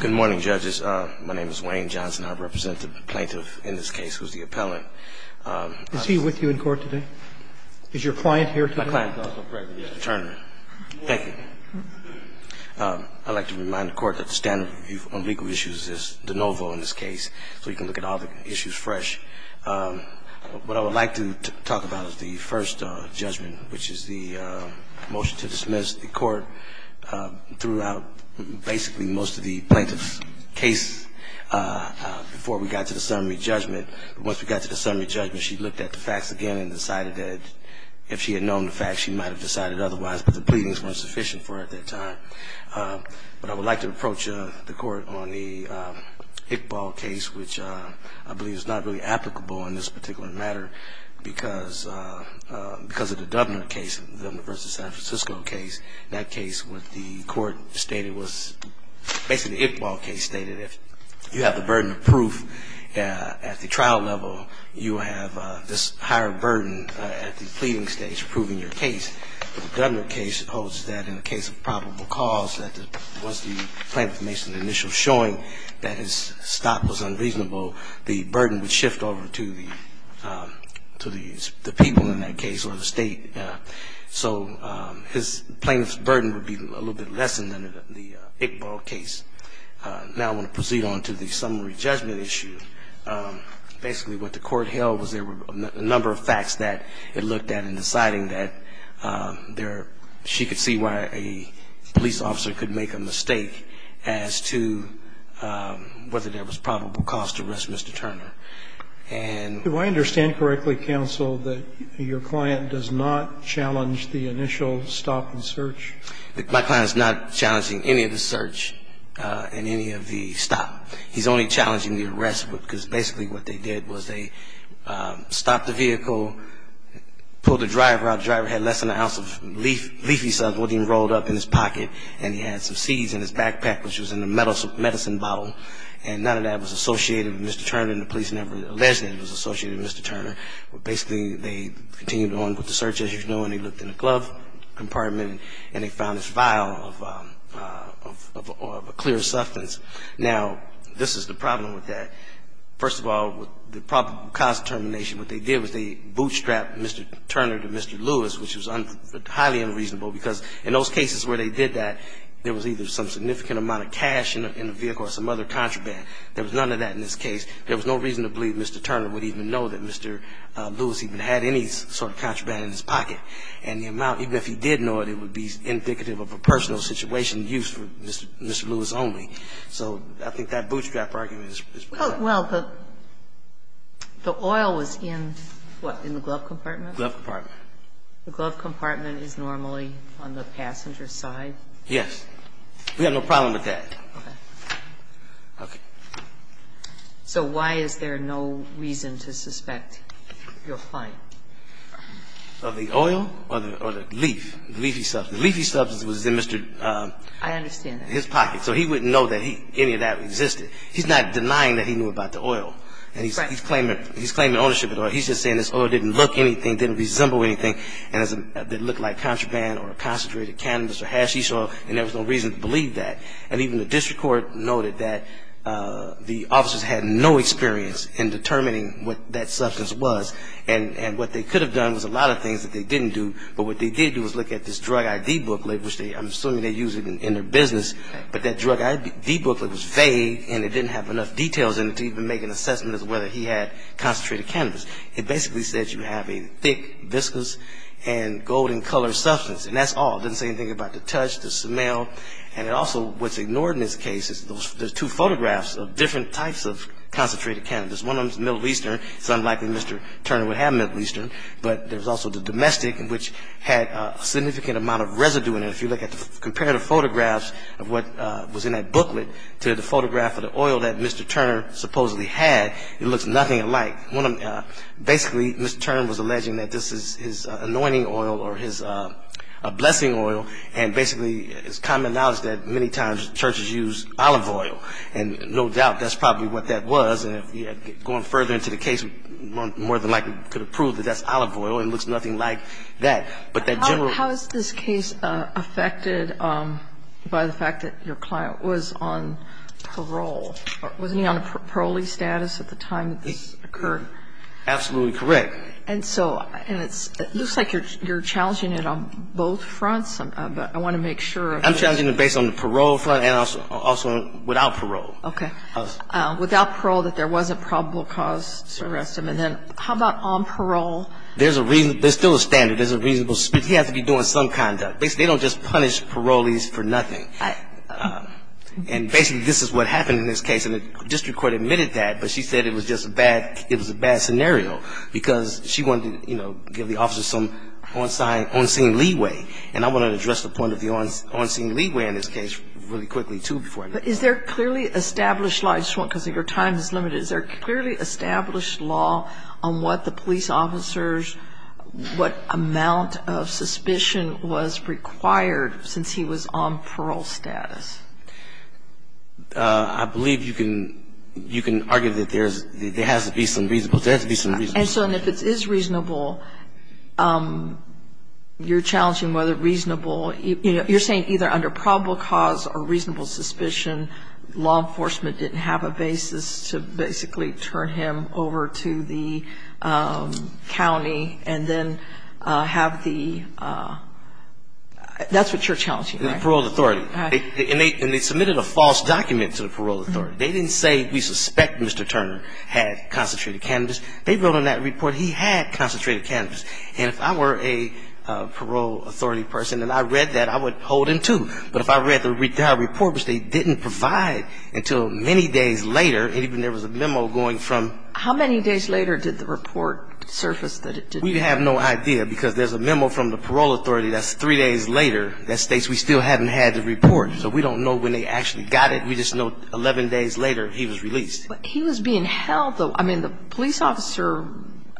Good morning, judges. My name is Wayne Johnson. I represent the plaintiff in this case, who's the appellant. Is he with you in court today? Is your client here today? My client, Mr. Turner. Thank you. I'd like to remind the Court that the standard review on legal issues is de novo in this case, so you can look at all the issues fresh. What I would like to talk about is the first judgment, which is the motion to dismiss the Court. Threw out basically most of the plaintiff's case before we got to the summary judgment. But once we got to the summary judgment, she looked at the facts again and decided that if she had known the facts, she might have decided otherwise, but the pleadings weren't sufficient for her at that time. But I would like to approach the Court on the Iqbal case, which I believe is not really applicable in this particular matter, because of the Dubner case, the Dubner v. San Francisco case. In that case, what the Court stated was, basically the Iqbal case stated if you have the burden of proof at the trial level, you have this higher burden at the pleading stage, proving your case. The Dubner case holds that in the case of probable cause, that once the plaintiff makes an initial showing that his stop was unreasonable, the burden would shift over to the people in that case or the State. So the plaintiff's burden would be a little bit less than in the Iqbal case. Now I want to proceed on to the summary judgment issue. Basically what the Court held was there were a number of facts that it looked at in deciding that she could see why a police officer could make a mistake as to whether there was probable cause to arrest Mr. Turner. as to whether there was probable cause to arrest Mr. Turner. And do I understand correctly, counsel, that your client does not challenge the initial stop and search? My client is not challenging any of the search and any of the stop. He's only challenging the arrest, because basically what they did was they stopped the vehicle, pulled the driver out. The driver had less than an ounce of leafy substance rolled up in his pocket, and he had some seeds in his backpack, which was in a medicine bottle. And none of that was associated with Mr. Turner, and the police never alleged that it was associated with Mr. Turner. But basically they continued on with the search, as you know, and they looked in the glove compartment, and they found this vial of a clear substance. Now, this is the problem with that. First of all, the probable cause determination, what they did was they bootstrapped Mr. Turner to Mr. Lewis, which was highly unreasonable, because in those cases where they did that, there was either some significant amount of cash in the vehicle or some other contraband. There was none of that in this case. There was no reason to believe Mr. Turner would even know that Mr. Lewis even had any sort of contraband in his pocket. And the amount, even if he did know it, it would be indicative of a personal situation used for Mr. Lewis only. So I think that bootstrap argument is problematic. Well, the oil was in, what, in the glove compartment? Glove compartment. The glove compartment is normally on the passenger side? Yes. We have no problem with that. Okay. Okay. So why is there no reason to suspect your client? Of the oil or the leaf, the leafy substance? The leafy substance was in Mr. Turner's pocket. I understand that. It was in his pocket, so he wouldn't know that any of that existed. He's not denying that he knew about the oil. And he's claiming ownership of the oil. He's just saying this oil didn't look anything, didn't resemble anything, and it looked like contraband or concentrated cannabis or hashish oil, and there was no reason to believe that. And even the district court noted that the officers had no experience in determining what that substance was. And what they could have done was a lot of things that they didn't do. But what they did do was look at this drug ID booklet, which I'm assuming they use in their business, but that drug ID booklet was vague and it didn't have enough details in it to even make an assessment as to whether he had concentrated cannabis. It basically said you have a thick, viscous, and golden-colored substance, and that's all. It didn't say anything about the touch, the smell. And it also, what's ignored in this case is there's two photographs of different types of concentrated cannabis. One of them is Middle Eastern. It's unlikely Mr. Turner would have Middle Eastern. But there's also the domestic, which had a significant amount of residue in it. If you look at the comparative photographs of what was in that booklet to the photograph of the oil that Mr. Turner supposedly had, it looks nothing alike. Basically, Mr. Turner was alleging that this is his anointing oil or his blessing oil, and basically it's common knowledge that many times churches use olive oil, and no doubt that's probably what that was. And going further into the case, we more than likely could have proved that that's olive oil and it looks nothing like that. But that general ---- How is this case affected by the fact that your client was on parole? Wasn't he on a parolee status at the time that this occurred? Absolutely correct. And so it looks like you're challenging it on both fronts, but I want to make sure. I'm challenging it based on the parole front and also without parole. Okay. Without parole, that there was a probable cause to arrest him. And then how about on parole? There's a reason ---- there's still a standard. There's a reasonable ---- he has to be doing some conduct. They don't just punish parolees for nothing. And basically this is what happened in this case. And the district court admitted that, but she said it was just a bad ---- it was a bad scenario because she wanted to, you know, give the officers some on-scene leeway. And I want to address the point of the on-scene leeway in this case really quickly too before I ---- But is there clearly established law? I just want, because your time is limited, is there clearly established law on what the police officers, what amount of suspicion was required since he was on parole status? I believe you can argue that there's ---- there has to be some reason. There has to be some reason. And so if it is reasonable, you're challenging whether reasonable ---- you're saying either under probable cause or reasonable suspicion, law enforcement didn't have a basis to basically turn him over to the county and then have the ---- that's what you're challenging, right? The parole authority. And they submitted a false document to the parole authority. They didn't say we suspect Mr. Turner had concentrated cannabis. They wrote on that report he had concentrated cannabis. And if I were a parole authority person and I read that, I would hold him to. But if I read the report, which they didn't provide until many days later, and even there was a memo going from ---- How many days later did the report surface that it didn't ---- We have no idea because there's a memo from the parole authority that's three days later that states we still haven't had the report. So we don't know when they actually got it. We just know 11 days later he was released. But he was being held though. I mean, the police officer,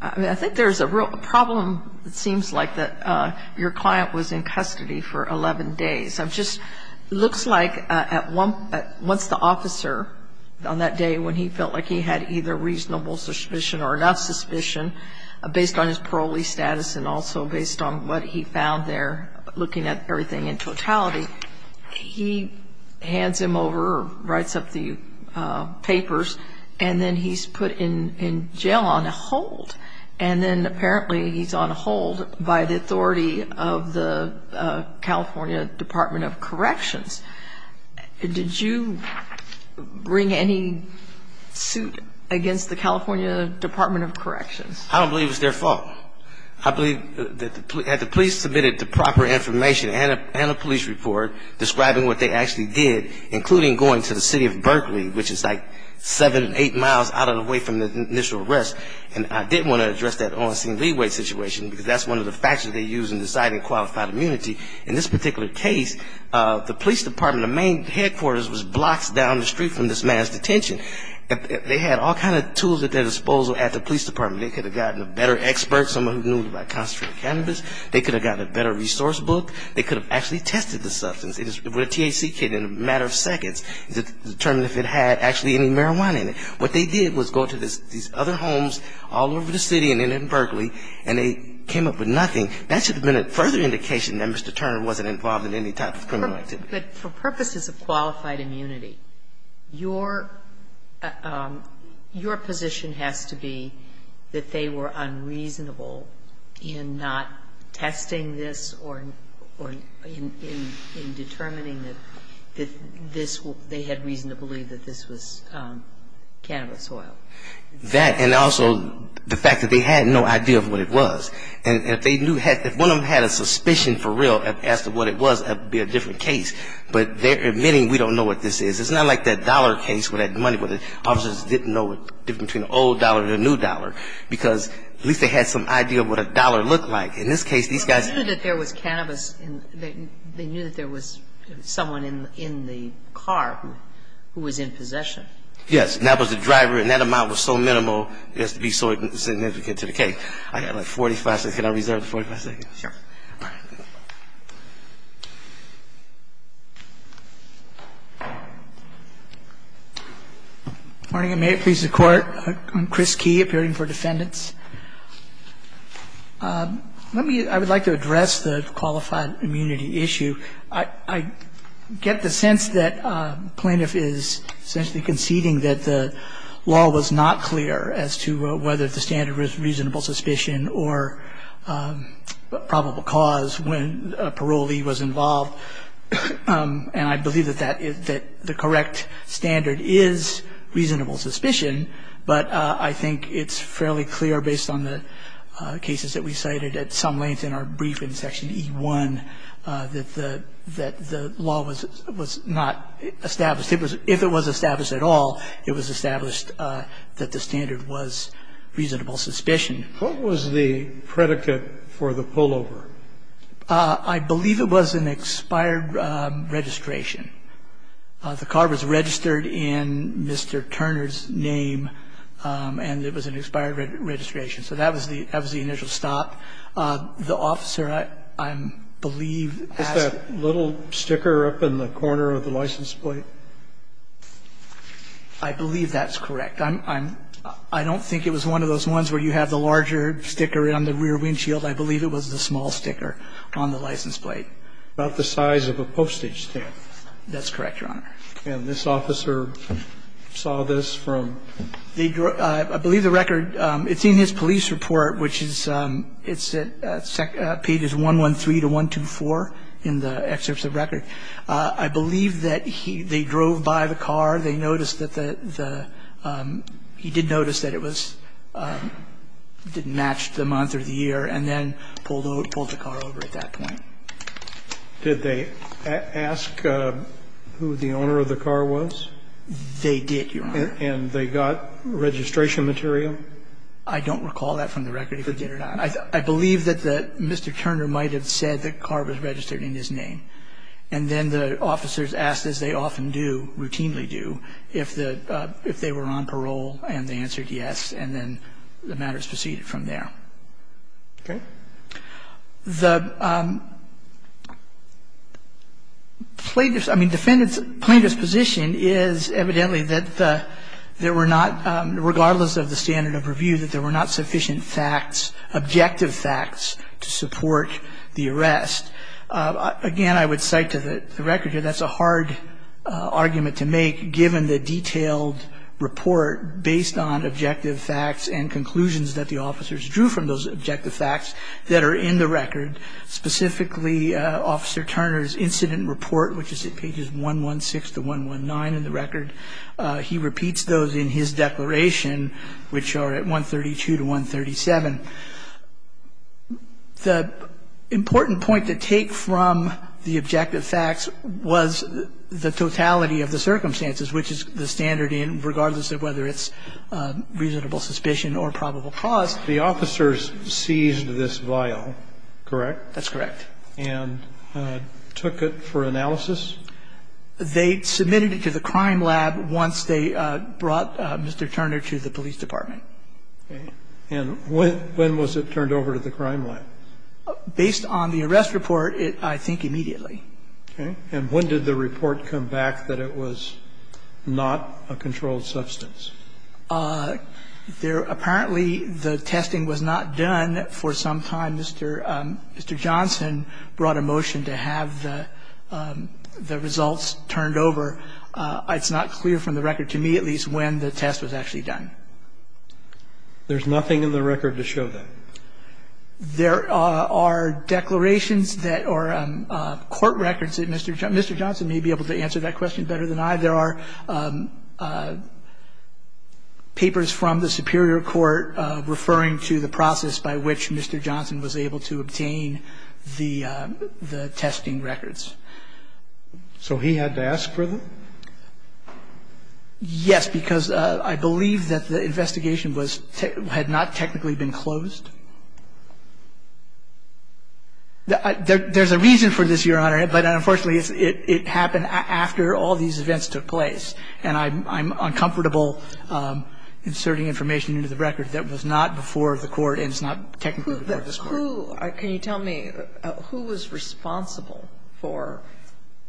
I mean, I think there's a real problem, it seems like, that your client was in custody for 11 days. It just looks like once the officer, on that day when he felt like he had either reasonable suspicion or enough suspicion, based on his parolee status and also based on what he found there looking at everything in totality, he hands him over or writes up the papers and then he's put in jail on hold. And then apparently he's on hold by the authority of the California Department of Corrections. Did you bring any suit against the California Department of Corrections? I don't believe it was their fault. I believe that the police submitted the proper information and a police report describing what they actually did, including going to the city of Berkeley, which is like seven, eight miles out of the way from the initial arrest. And I did want to address that on scene leeway situation, because that's one of the factors they use in deciding qualified immunity. In this particular case, the police department, the main headquarters was blocks down the street from this man's detention. They had all kinds of tools at their disposal at the police department. They could have gotten a better expert, someone who knew about concentrated cannabis. They could have gotten a better resource book. They could have actually tested the substance. It was a THC kit in a matter of seconds to determine if it had actually any marijuana in it. What they did was go to these other homes all over the city and in Berkeley, and they came up with nothing. That should have been a further indication that Mr. Turner wasn't involved in any type of criminal activity. But for purposes of qualified immunity, your position has to be that they were unreasonable in not testing this or in determining that they had reason to believe that this was cannabis oil. That and also the fact that they had no idea of what it was. And if they knew, if one of them had a suspicion for real as to what it was, that would be a different case. But they're admitting we don't know what this is. It's not like that dollar case where they had money, where the officers didn't know the difference between an old dollar and a new dollar, because at least they had some idea of what a dollar looked like. In this case, these guys ---- But they knew that there was cannabis in the ---- they knew that there was someone in the car who was in possession. Yes. And that was the driver, and that amount was so minimal, it has to be so significant to the case. Thank you. Thank you. Okay. I have about 45 seconds. Can I reserve 45 seconds? Sure. Good morning. May it please the Court. I'm Chris Key, appearing for defendants. Let me ---- I would like to address the qualified immunity issue. I get the sense that the plaintiff is essentially conceding that the law was not clear as to whether the standard was reasonable suspicion or probable cause when a parolee was involved. And I believe that the correct standard is reasonable suspicion, but I think it's fairly clear based on the cases that we cited at some length in our brief in Section E1 that the law was not established. If it was established at all, it was established that the standard was reasonable suspicion. What was the predicate for the pullover? I believe it was an expired registration. The car was registered in Mr. Turner's name, and it was an expired registration. So that was the initial stop. The officer, I believe, asked ---- Is that little sticker up in the corner of the license plate? I believe that's correct. I'm ---- I don't think it was one of those ones where you have the larger sticker on the rear windshield. I believe it was the small sticker on the license plate. About the size of a postage stamp. That's correct, Your Honor. And this officer saw this from ---- I believe the record ---- it's in his police report, which is ---- it's at pages 113 to 124 in the excerpts of the record. I believe that he ---- they drove by the car. They noticed that the ---- he did notice that it was ---- didn't match the month or the year, and then pulled the car over at that point. Did they ask who the owner of the car was? They did, Your Honor. And they got registration material? I don't recall that from the record, if they did or not. I believe that the ---- Mr. Turner might have said the car was registered in his name. And then the officers asked, as they often do, routinely do, if the ---- if they were on parole, and they answered yes, and then the matters proceeded from there. Okay. The plaintiff's ---- I mean, defendant's ---- plaintiff's position is evidently that there were not, regardless of the standard of review, that there were not sufficient facts, objective facts, to support the arrest. Again, I would cite to the record here that's a hard argument to make, given the detailed report based on objective facts and conclusions that the officers drew from those objective facts that are in the record, specifically Officer Turner's incident report, which is at pages 116 to 119 in the record. He repeats those in his declaration, which are at 132 to 137. The important point to take from the objective facts was the totality of the circumstances, which is the standard in ---- regardless of whether it's reasonable suspicion or probable cause. The officers seized this vial, correct? That's correct. And took it for analysis? They submitted it to the crime lab once they brought Mr. Turner to the police department. Okay. And when was it turned over to the crime lab? Based on the arrest report, I think immediately. Okay. And when did the report come back that it was not a controlled substance? There ---- apparently the testing was not done for some time. Mr. Johnson brought a motion to have the results turned over. It's not clear from the record, to me at least, when the test was actually done. There's nothing in the record to show that? There are declarations that are court records that Mr. Johnson may be able to answer that question better than I. There are papers from the superior court referring to the process by which Mr. Johnson was able to obtain the testing records. So he had to ask for them? Yes, because I believe that the investigation was ---- had not technically been closed. There's a reason for this, Your Honor, but unfortunately, it happened after all these events took place. And I'm uncomfortable inserting information into the record that was not before the Court and is not technically before this Court. Who ---- can you tell me who was responsible for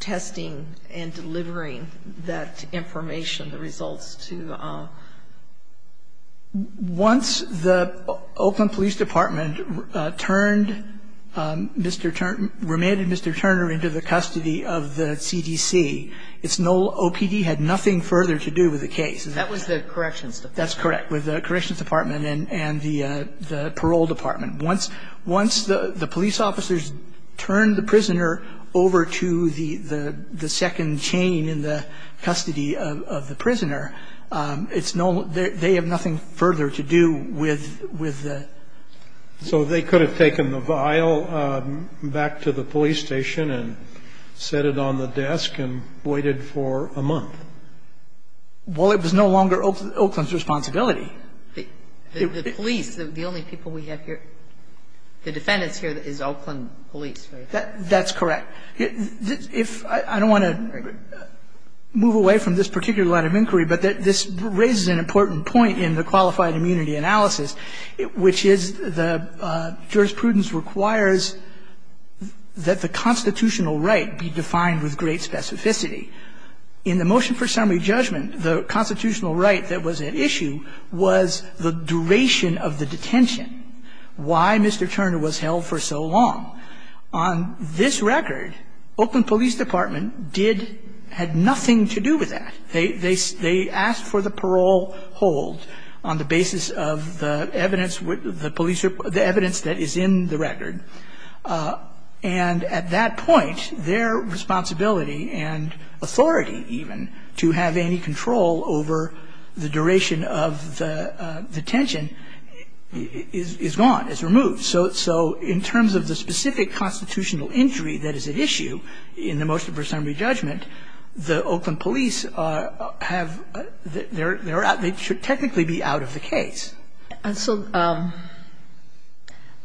testing and delivering that information, the results to ---- Once the Oakland Police Department turned Mr. Turner ---- remanded Mr. Turner into the custody of the CDC, its null OPD had nothing further to do with the case. That was the Corrections Department? That's correct. With the Corrections Department and the Parole Department. Once the police officers turned the prisoner over to the second chain in the custody of the prisoner, its null ---- they have nothing further to do with the ---- So they could have taken the vial back to the police station and set it on the desk and waited for a month? Well, it was no longer Oakland's responsibility. The police, the only people we have here, the defendants here is Oakland Police, right? That's correct. If ---- I don't want to move away from this particular line of inquiry, but this raises an important point in the qualified immunity analysis, which is the jurisprudence requires that the constitutional right be defined with great specificity. In the motion for summary judgment, the constitutional right that was at issue was the duration of the detention. Why Mr. Turner was held for so long? On this record, Oakland Police Department did ---- had nothing to do with that. They asked for the parole hold on the basis of the evidence, the police ---- the evidence that is in the record. And at that point, their responsibility and authority even to have any control over the duration of the detention is gone, is removed. So in terms of the specific constitutional injury that is at issue in the motion for summary judgment, the Oakland Police have ---- they're out ---- they should technically be out of the case. And so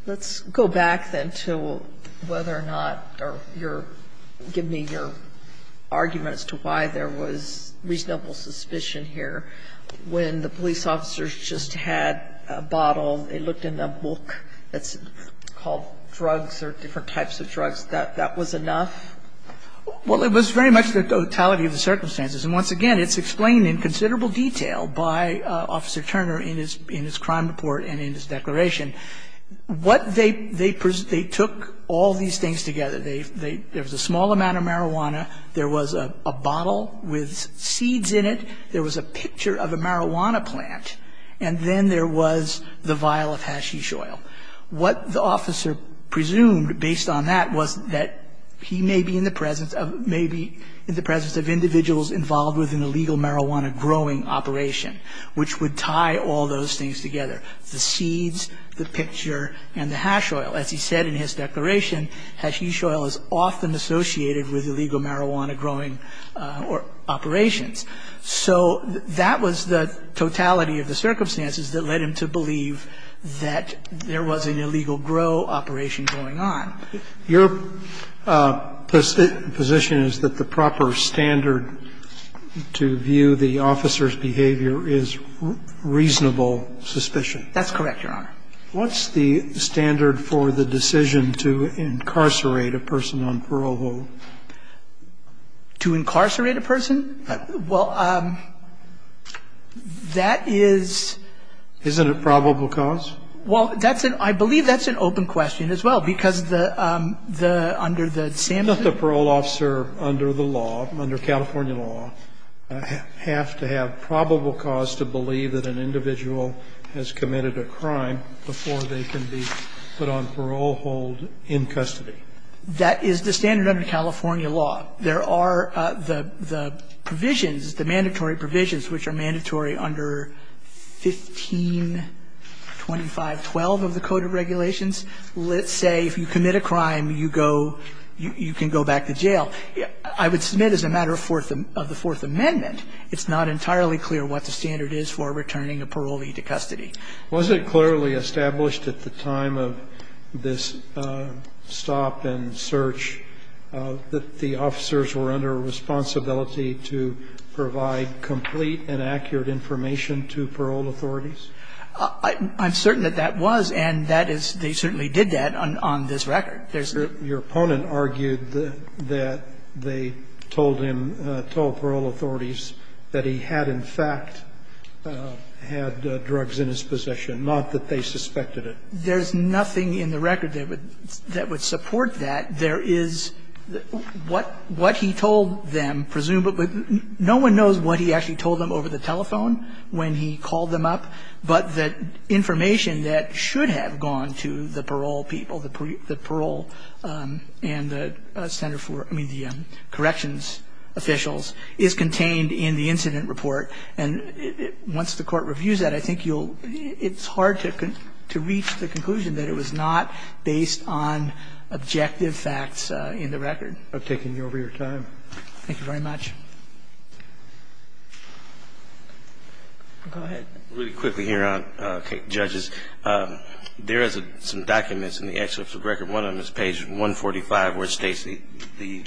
let's go back, then, to whether or not your ---- give me your argument as to why there was reasonable suspicion here. When the police officers just had a bottle, they looked in the book that's called drugs or different types of drugs, that that was enough? Well, it was very much the totality of the circumstances. And once again, it's explained in considerable detail by Officer Turner in his crime report and in his declaration. What they ---- they took all these things together. There was a small amount of marijuana. There was a bottle with seeds in it. There was a picture of a marijuana plant. And then there was the vial of hashish oil. What the officer presumed based on that was that he may be in the presence of ---- that he may be involved with an illegal marijuana growing operation, which would tie all those things together, the seeds, the picture, and the hash oil. As he said in his declaration, hashish oil is often associated with illegal marijuana growing operations. So that was the totality of the circumstances that led him to believe that there was an illegal grow operation going on. Your position is that the proper standard to view the officer's behavior is reasonable suspicion. That's correct, Your Honor. What's the standard for the decision to incarcerate a person on parole hold? To incarcerate a person? Well, that is ---- Isn't it probable cause? Well, that's an ---- I believe that's an open question as well, because the under the ---- The parole officer under the law, under California law, have to have probable cause to believe that an individual has committed a crime before they can be put on parole hold in custody. That is the standard under California law. There are the provisions, the mandatory provisions, which are mandatory under 1525 12 of the Code of Regulations. Let's say if you commit a crime, you go, you can go back to jail. I would submit as a matter of the Fourth Amendment, it's not entirely clear what the standard is for returning a parolee to custody. Was it clearly established at the time of this stop and search that the officers were under a responsibility to provide complete and accurate information to parole authorities? I'm certain that that was, and that is they certainly did that on this record. Your opponent argued that they told him, told parole authorities that he had in fact had drugs in his possession, not that they suspected it. There's nothing in the record that would support that. There is what he told them, presumably, no one knows what he actually told them over the telephone when he called them up, but the information that should have gone to the parole people, the parole and the center for, I mean, the corrections officials is contained in the incident report. And once the Court reviews that, I think you'll, it's hard to reach the conclusion that it was not based on objective facts in the record. I've taken over your time. Thank you very much. Go ahead. Really quickly here, Judges, there is some documents in the excerpts of the record. One of them is page 145 where it states the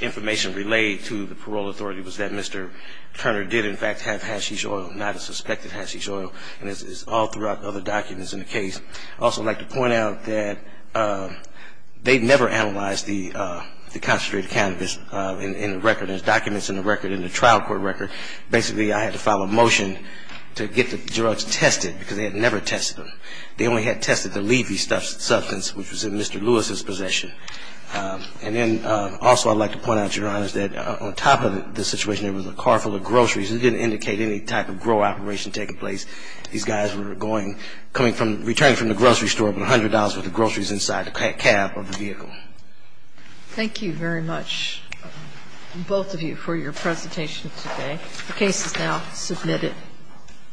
information relayed to the parole authority was that Mr. Turner did in fact have hashish oil, not a suspected hashish oil. And it's all throughout other documents in the case. I'd also like to point out that they never analyzed the concentrated cannabis in the record. There's documents in the record, in the trial court record. Basically, I had to file a motion to get the drugs tested because they had never tested them. They only had tested the leafy substance, which was in Mr. Lewis's possession. And then also I'd like to point out, Your Honors, that on top of the situation there was a car full of groceries. It didn't indicate any type of grow operation taking place. These guys were going, coming from, returning from the grocery store with $100 worth of groceries inside the cab of the vehicle. Thank you very much. Both of you for your presentation today. The case is now submitted.